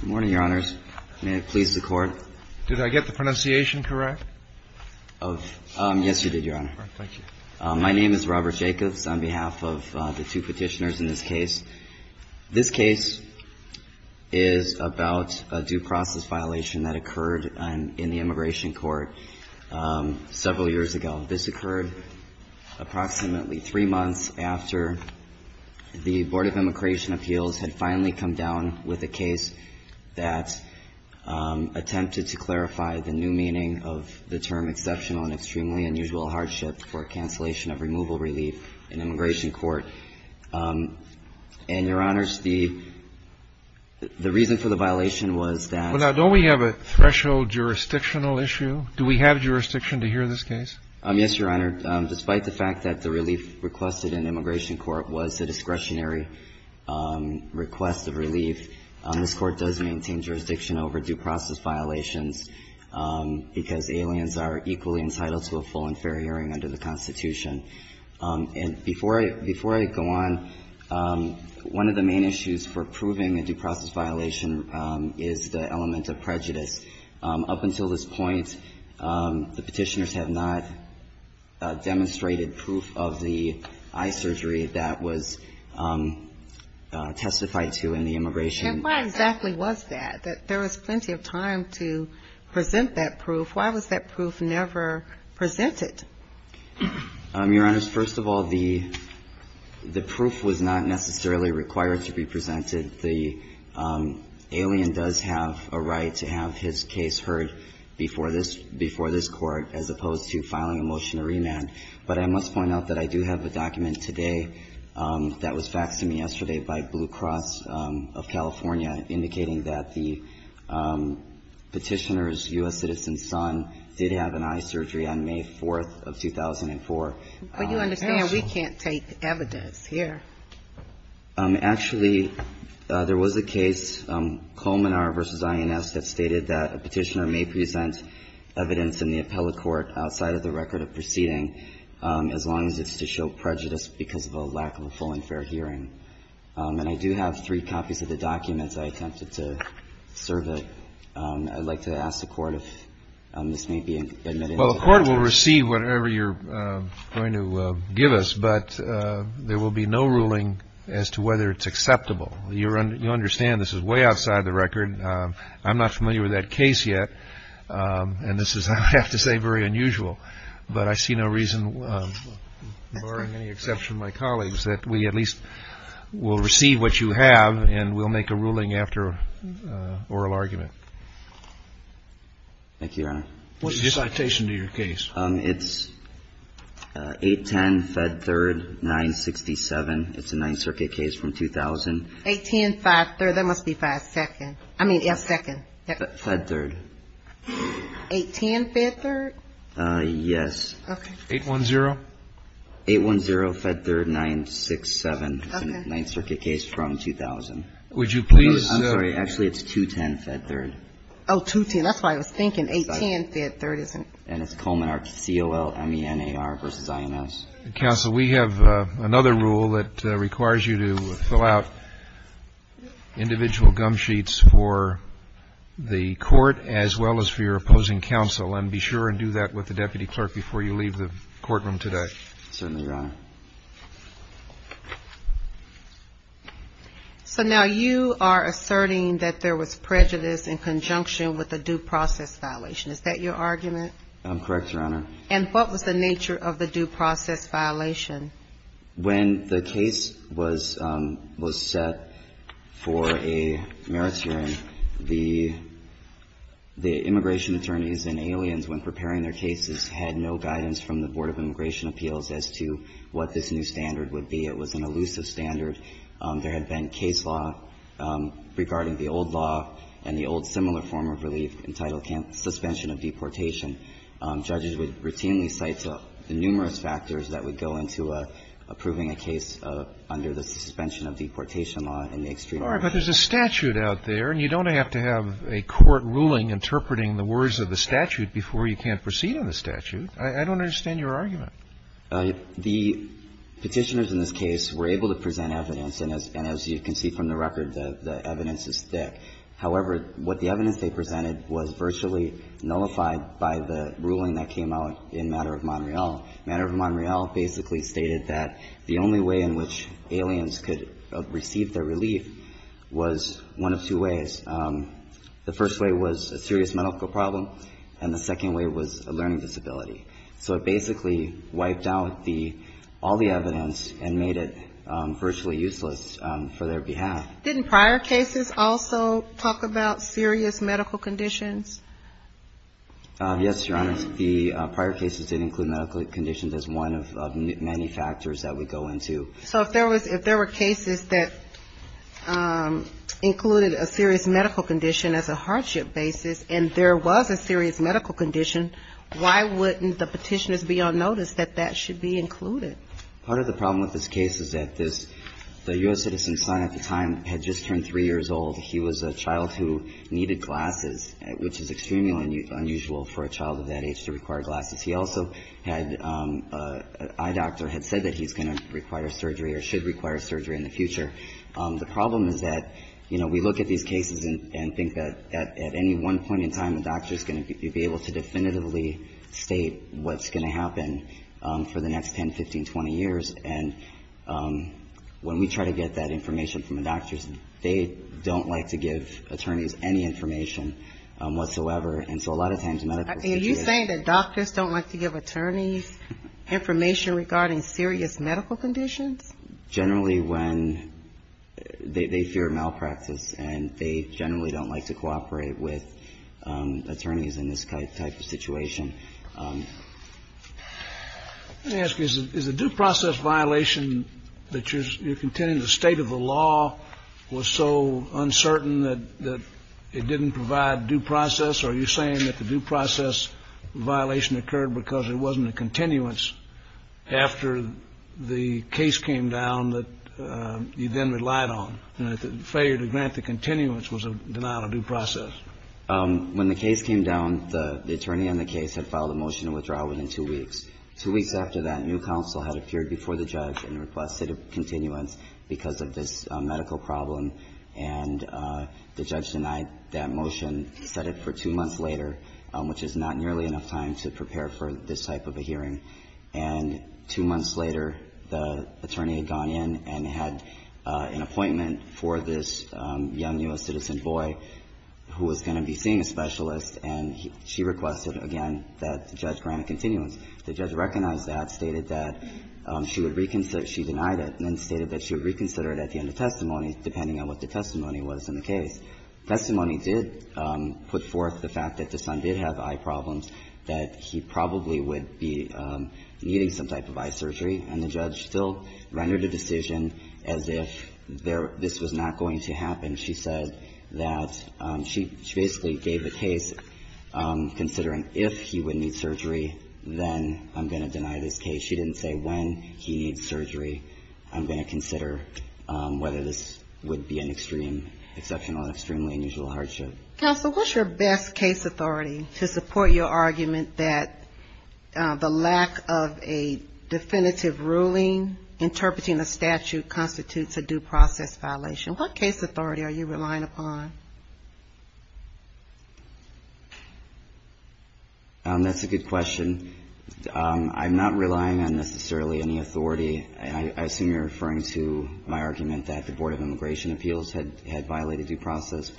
Good morning, Your Honors. May it please the Court. Did I get the pronunciation correct? Yes, you did, Your Honor. Thank you. My name is Robert Jacobs on behalf of the two petitioners in this case. This case is about a due process violation that occurred in the immigration court several years ago. This occurred approximately three months after the Board of Immigration Appeals had finally come down with a case that attempted to clarify the new meaning of the term exceptional and extremely unusual hardship for cancellation of removal relief in immigration court. And, Your Honors, the reason for the violation was that — Well, now, don't we have a threshold jurisdictional issue? Do we have jurisdiction to hear this case? Yes, Your Honor. Despite the fact that the relief requested in immigration court was a discretionary request of relief, this Court does maintain jurisdiction over due process violations because aliens are equally entitled to a full and fair hearing under the Constitution. And before I go on, one of the main issues for proving a due process violation is the element of prejudice. Up until this point, the petitioners have not demonstrated proof of the eye surgery that was testified to in the immigration. And why exactly was that? There was plenty of time to present that proof. Why was that proof never presented? Your Honors, first of all, the proof was not necessarily required to be presented. The alien does have a right to have his case heard before this court as opposed to filing a motion to remand. But I must point out that I do have a document today that was faxed to me yesterday by Blue Cross of California indicating that the petitioner's U.S. citizen son did have an eye surgery on May 4th of 2004. But you understand we can't take evidence here. Actually, there was a case, Colmenar v. INS, that stated that a petitioner may present evidence in the appellate court outside of the record of proceeding as long as it's to show prejudice because of a lack of a full and fair hearing. And I do have three copies of the documents I attempted to serve it. I'd like to ask the Court if this may be admitted. Well, the Court will receive whatever you're going to give us, but there will be no ruling as to whether it's acceptable. You understand this is way outside the record. I'm not familiar with that case yet, and this is, I have to say, very unusual. But I see no reason, barring any exception of my colleagues, that we at least will receive what you have and we'll make a ruling after oral argument. Thank you, Your Honor. What's the citation to your case? It's 810, Fed 3rd, 967. It's a Ninth Circuit case from 2000. 810, 5 3rd. That must be 5 2nd. I mean, yeah, 2nd. Fed 3rd. 810, Fed 3rd? Yes. Okay. 810? 810, Fed 3rd, 967. Okay. Ninth Circuit case from 2000. Would you please? I'm sorry. Actually, it's 210, Fed 3rd. Oh, 210. That's what I was thinking, 810, Fed 3rd. And it's Coleman, C-O-L-E-M-E-N-A-R versus I-N-S. Counsel, we have another rule that requires you to fill out individual gum sheets for the Court as well as for your opposing counsel. And be sure and do that with the deputy clerk before you leave the courtroom today. Certainly, Your Honor. So now you are asserting that there was prejudice in conjunction with the due process violation. Is that your argument? Correct, Your Honor. And what was the nature of the due process violation? When the case was set for a merits hearing, the immigration attorneys and aliens when preparing their cases had no guidance from the Board of Immigration Appeals as to what this new standard would be. It was an elusive standard. There had been case law regarding the old law and the old similar form of relief entitled suspension of deportation. Judges would routinely cite the numerous factors that would go into approving a case under the suspension of deportation law in the extreme. All right. But there's a statute out there, and you don't have to have a court ruling interpreting the words of the statute before you can't proceed on the statute. I don't understand your argument. The Petitioners in this case were able to present evidence, and as you can see from the record, the evidence is thick. However, what the evidence they presented was virtually nullified by the ruling that came out in Matter of Montreal. Matter of Montreal basically stated that the only way in which aliens could receive their relief was one of two ways. The first way was a serious medical problem, and the second way was a learning disability. So it basically wiped out the – all the evidence and made it virtually useless for their behalf. Didn't prior cases also talk about serious medical conditions? Yes, Your Honor. The prior cases did include medical conditions as one of many factors that would go into. So if there was – if there were cases that included a serious medical condition as a hardship basis, and there was a serious medical condition, why wouldn't the Petitioners be on notice that that should be included? Part of the problem with this case is that this – the U.S. citizen's son at the time had just turned 3 years old. He was a child who needed glasses, which is extremely unusual for a child of that age to require glasses. He also had – an eye doctor had said that he's going to require surgery or should require surgery in the future. The problem is that, you know, we look at these cases and think that at any one point in time, the doctor's going to be able to definitively state what's going to happen for the next 10, 15, 20 years. And when we try to get that information from the doctors, they don't like to give attorneys any information whatsoever. And so a lot of times medicals – Are you saying that doctors don't like to give attorneys information regarding serious medical conditions? Generally, when – they fear malpractice and they generally don't like to cooperate with attorneys in this type of situation. Let me ask you, is the due process violation that you're contending the state of the law was so uncertain that it didn't provide due process? Are you saying that the due process violation occurred because there wasn't a continuance after the case came down that you then relied on, and that the failure to grant the continuance was a denial of due process? When the case came down, the attorney on the case had filed a motion of withdrawal within two weeks. Two weeks after that, a new counsel had appeared before the judge and requested a continuance because of this medical problem. And the judge denied that motion, set it for two months later, which is not nearly enough time to prepare for this type of a hearing. And two months later, the attorney had gone in and had an appointment for this young U.S. citizen boy who was going to be seeing a specialist, and she requested, again, that the judge grant a continuance. The judge recognized that, stated that she would reconsider – she denied it, and then stated that she would reconsider it at the end of testimony, depending on what the testimony was in the case. Testimony did put forth the fact that the son did have eye problems, that he probably would be needing some type of eye surgery, and the judge still rendered a decision as if this was not going to happen. She said that she basically gave the case considering if he would need surgery, then I'm going to deny this case. She didn't say when he needs surgery, I'm going to consider whether this would be an extreme, exceptional, extremely unusual hardship. Counsel, what's your best case authority to support your argument that the lack of a definitive ruling interpreting a statute constitutes a due process violation? What case authority are you relying upon? That's a good question. I'm not relying on necessarily any authority, and I assume you're referring to my argument that the Board of Judges is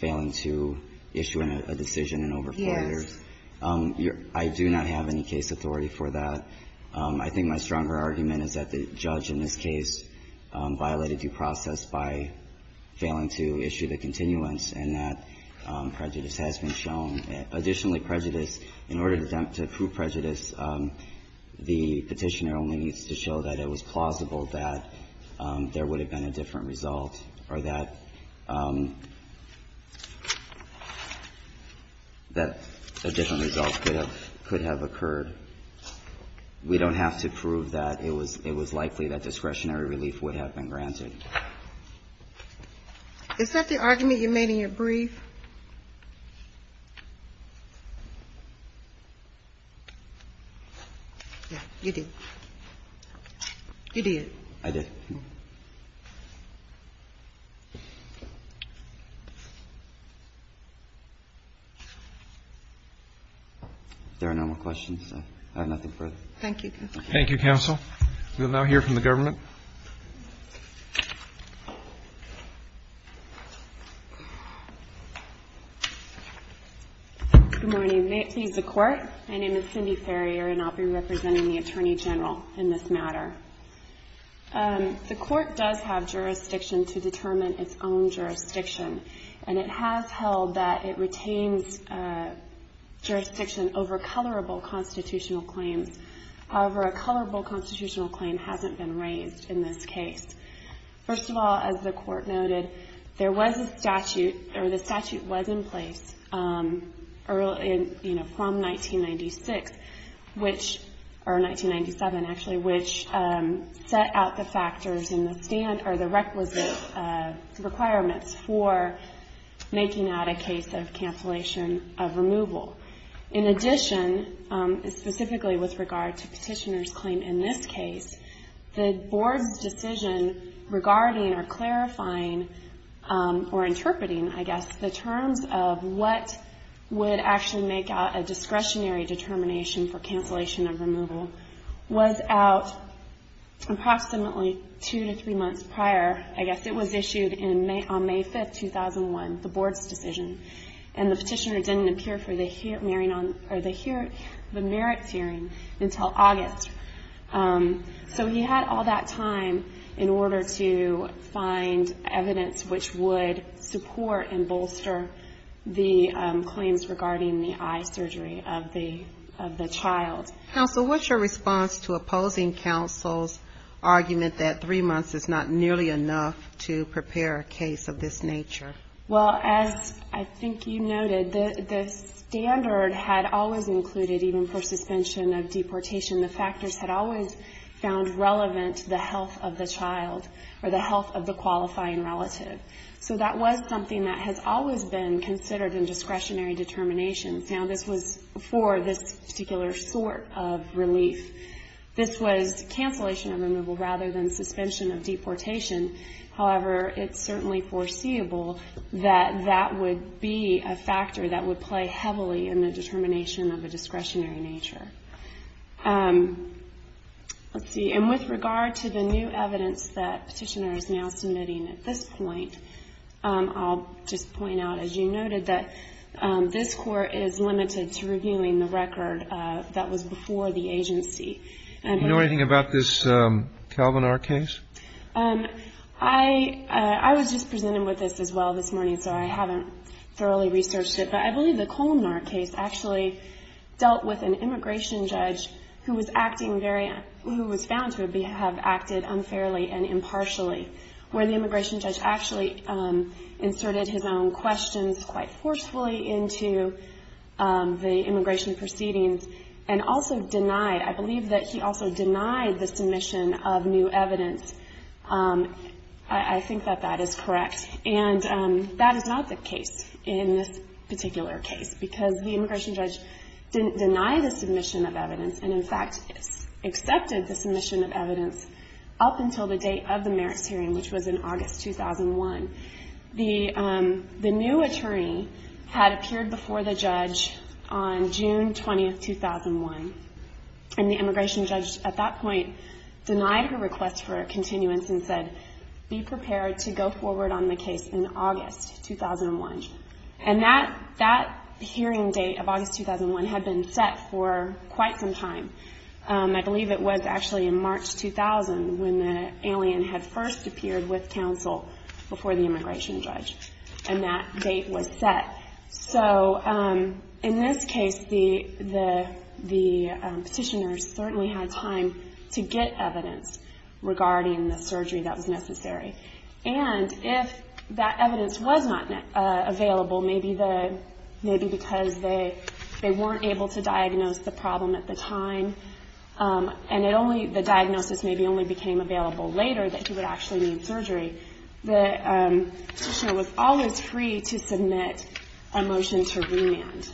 failing to issue a decision in over four years. Yes. I do not have any case authority for that. I think my stronger argument is that the judge in this case violated due process by failing to issue the continuance, and that prejudice has been shown. Additionally, prejudice, in order to prove prejudice, the Petitioner only needs to show that it was plausible that there would have been a different result or that a different result could have occurred. We don't have to prove that it was likely that discretionary relief would have been granted. Is that the argument you made in your brief? Yes, you did. You did. I did. If there are no more questions, I have nothing further. Thank you, Counsel. Thank you, Counsel. We will now hear from the Government. Good morning. May it please the Court. My name is Cindy Ferrier, and I'll be representing the Attorney General in this matter. The Court does have jurisdiction to determine its own jurisdiction, and it has held that it retains jurisdiction over colorable constitutional claims. However, a colorable constitutional claim hasn't been raised in this case. First of all, as the Court noted, there was a statute, or the statute was in place early in, you know, from 1996, which, or 1997, actually, which set out the factors in the stand, or the requisite requirements for making out a case of cancellation of removal. In addition, specifically with regard to Petitioner's claim in this case, the Board's decision regarding, or clarifying, or interpreting, I guess, the terms of what would actually make out a discretionary determination for cancellation of removal was out approximately two to three months prior. I guess it was issued on May 5, 2001, the Board's decision. And the Petitioner didn't appear for the merit hearing until August. So he had all that time in order to find evidence which would support and bolster the claims regarding the eye surgery of the child. Counsel, what's your response to opposing counsel's argument that three months is not nearly enough to prepare a case of this nature? Well, as I think you noted, the standard had always included, even for suspension of deportation, the factors had always found relevant the health of the child, or the health of the qualifying relative. So that was something that has always been considered in discretionary determinations. Now, this was for this particular sort of relief. This was cancellation of removal rather than suspension of deportation. However, it's certainly foreseeable that that would be a factor that would play heavily in the determination of a discretionary nature. Let's see. And with regard to the new evidence that Petitioner is now submitting at this point, I'll just point out, as you noted, that this Court is limited to reviewing the record that was before the agency Do you know anything about this Colmenar case? I was just presented with this as well this morning, so I haven't thoroughly researched it. But I believe the Colmenar case actually dealt with an immigration judge who was acting very who was found to have acted unfairly and impartially, where the immigration judge actually inserted his own questions quite forcefully into the immigration proceedings, and also denied, I believe, that he also denied the submission of new evidence. I think that that is correct, and that is not the case in this particular case, because the immigration judge didn't deny the submission of evidence, and in fact, accepted the submission of evidence up until the date of the merits hearing, which was in August 2001. The new attorney had appeared before the judge on June 20, 2001, and the immigration judge at that point denied her request for a continuance and said, be prepared to go forward on the case in August 2001. And that hearing date of August 2001 had been set for quite some time. I believe it was actually in March 2000 when the alien had first appeared with counsel before the immigration judge, and that date was set. So in this case, the petitioners certainly had time to get evidence regarding the surgery that was necessary. And if that evidence was not available, maybe because they weren't able to diagnose the problem at the time, and the diagnosis maybe only became available later that he would actually need surgery, the petitioner was always free to submit a motion to remand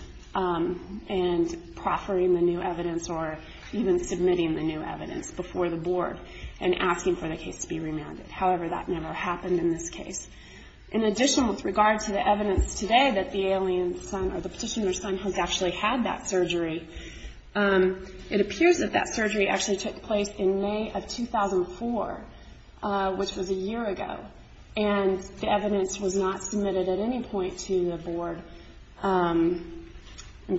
and proffering the new evidence or even submitting the new evidence before the board and asking for the case to be remanded. However, that never happened in this case. In addition, with regard to the evidence today that the petitioner's son has actually had that surgery, it appears that that surgery actually took place in May of 2004, which was a year ago. And the evidence was not submitted at any point to the board. And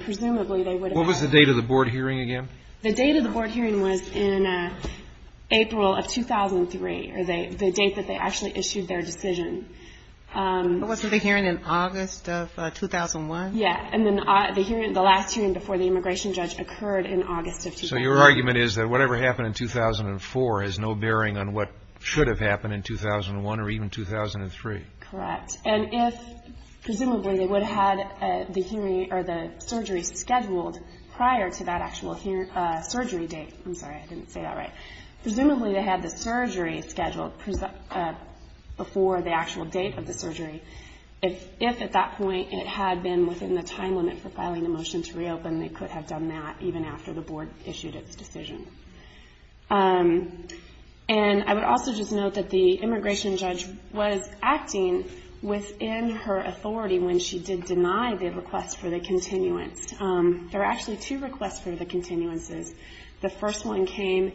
presumably they would have... What was the date of the board hearing again? The date of the board hearing was in April of 2003, or the date that they actually issued their decision. But wasn't the hearing in August of 2001? Yeah, and then the last hearing before the immigration judge occurred in August of 2003. So your argument is that whatever happened in 2004 has no bearing on what should have happened in 2001 or even 2003. Correct. And if presumably they would have had the surgery scheduled prior to that actual surgery date, I'm sorry, I didn't say that right, presumably they had the surgery scheduled before the actual date of the surgery. If at that point it had been within the time limit for filing a motion to reopen, they could have done that even after the board issued its decision. And I would also just note that the immigration judge was acting within her authority when she did deny the request for the continuance. There are actually two requests for the continuances. The first one came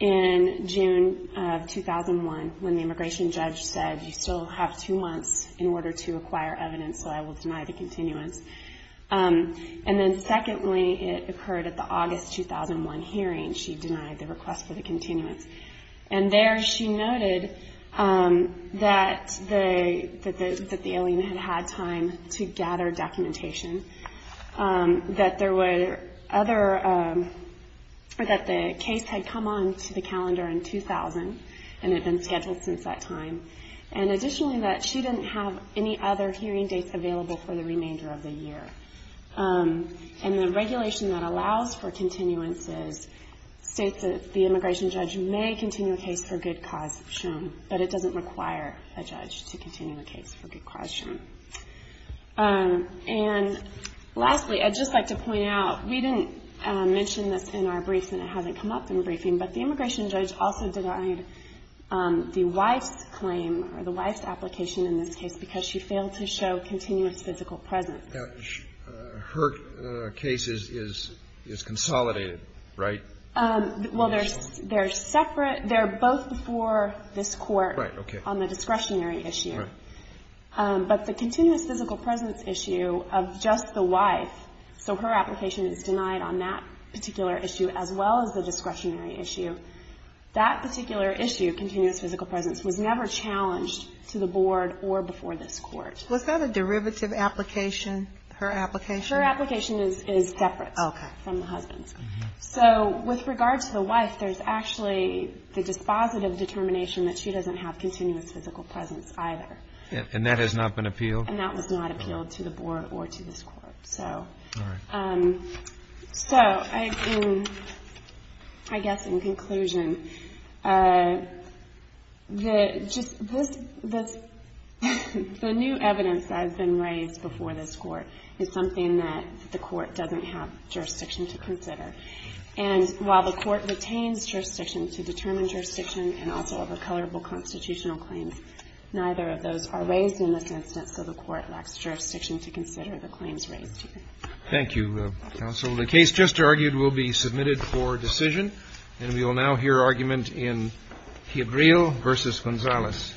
in June of 2001 when the immigration judge said, you still have two months in order to acquire evidence, so I will deny the continuance. And then secondly, it occurred at the August 2001 hearing, she denied the request for the continuance. And there she noted that the alien had had time to gather documentation, that there were other, that the case had come on to the calendar in 2000 and had been scheduled since that time, and additionally that she didn't have any other hearing dates available for the remainder of the year. And the regulation that allows for continuances states that the immigration judge may continue a case for good cause shown, but it doesn't require a judge to continue a case for good cause shown. And lastly, I'd just like to point out, we didn't mention this in our briefs and it hasn't come up in the briefing, but the immigration judge also denied the wife's claim or the wife's application in this case because she failed to show continuous physical presence. Her case is consolidated, right? Well, they're separate. They're both before this court on the discretionary issue, but the continuous physical presence issue of just the wife, so her application is denied on that particular issue as well as the discretionary issue, that particular issue, continuous physical presence, was never challenged to the board or before this court. Was that a derivative application, her application? Her application is separate from the husband's. So with regard to the wife, there's actually the dispositive determination that she doesn't have continuous physical presence either. And that has not been appealed? And that was not appealed to the board or to this court. All right. So I guess in conclusion, the new evidence that has been raised before this court is something that the court doesn't have jurisdiction to consider. And while the court retains jurisdiction to determine jurisdiction and also have a colorable constitutional claim, neither of those are raised in this instance. So the court lacks jurisdiction to consider the claims raised here. Thank you, counsel. The case just argued will be submitted for decision, and we will now hear argument in Piedrillo v. Gonzalez. Thank you.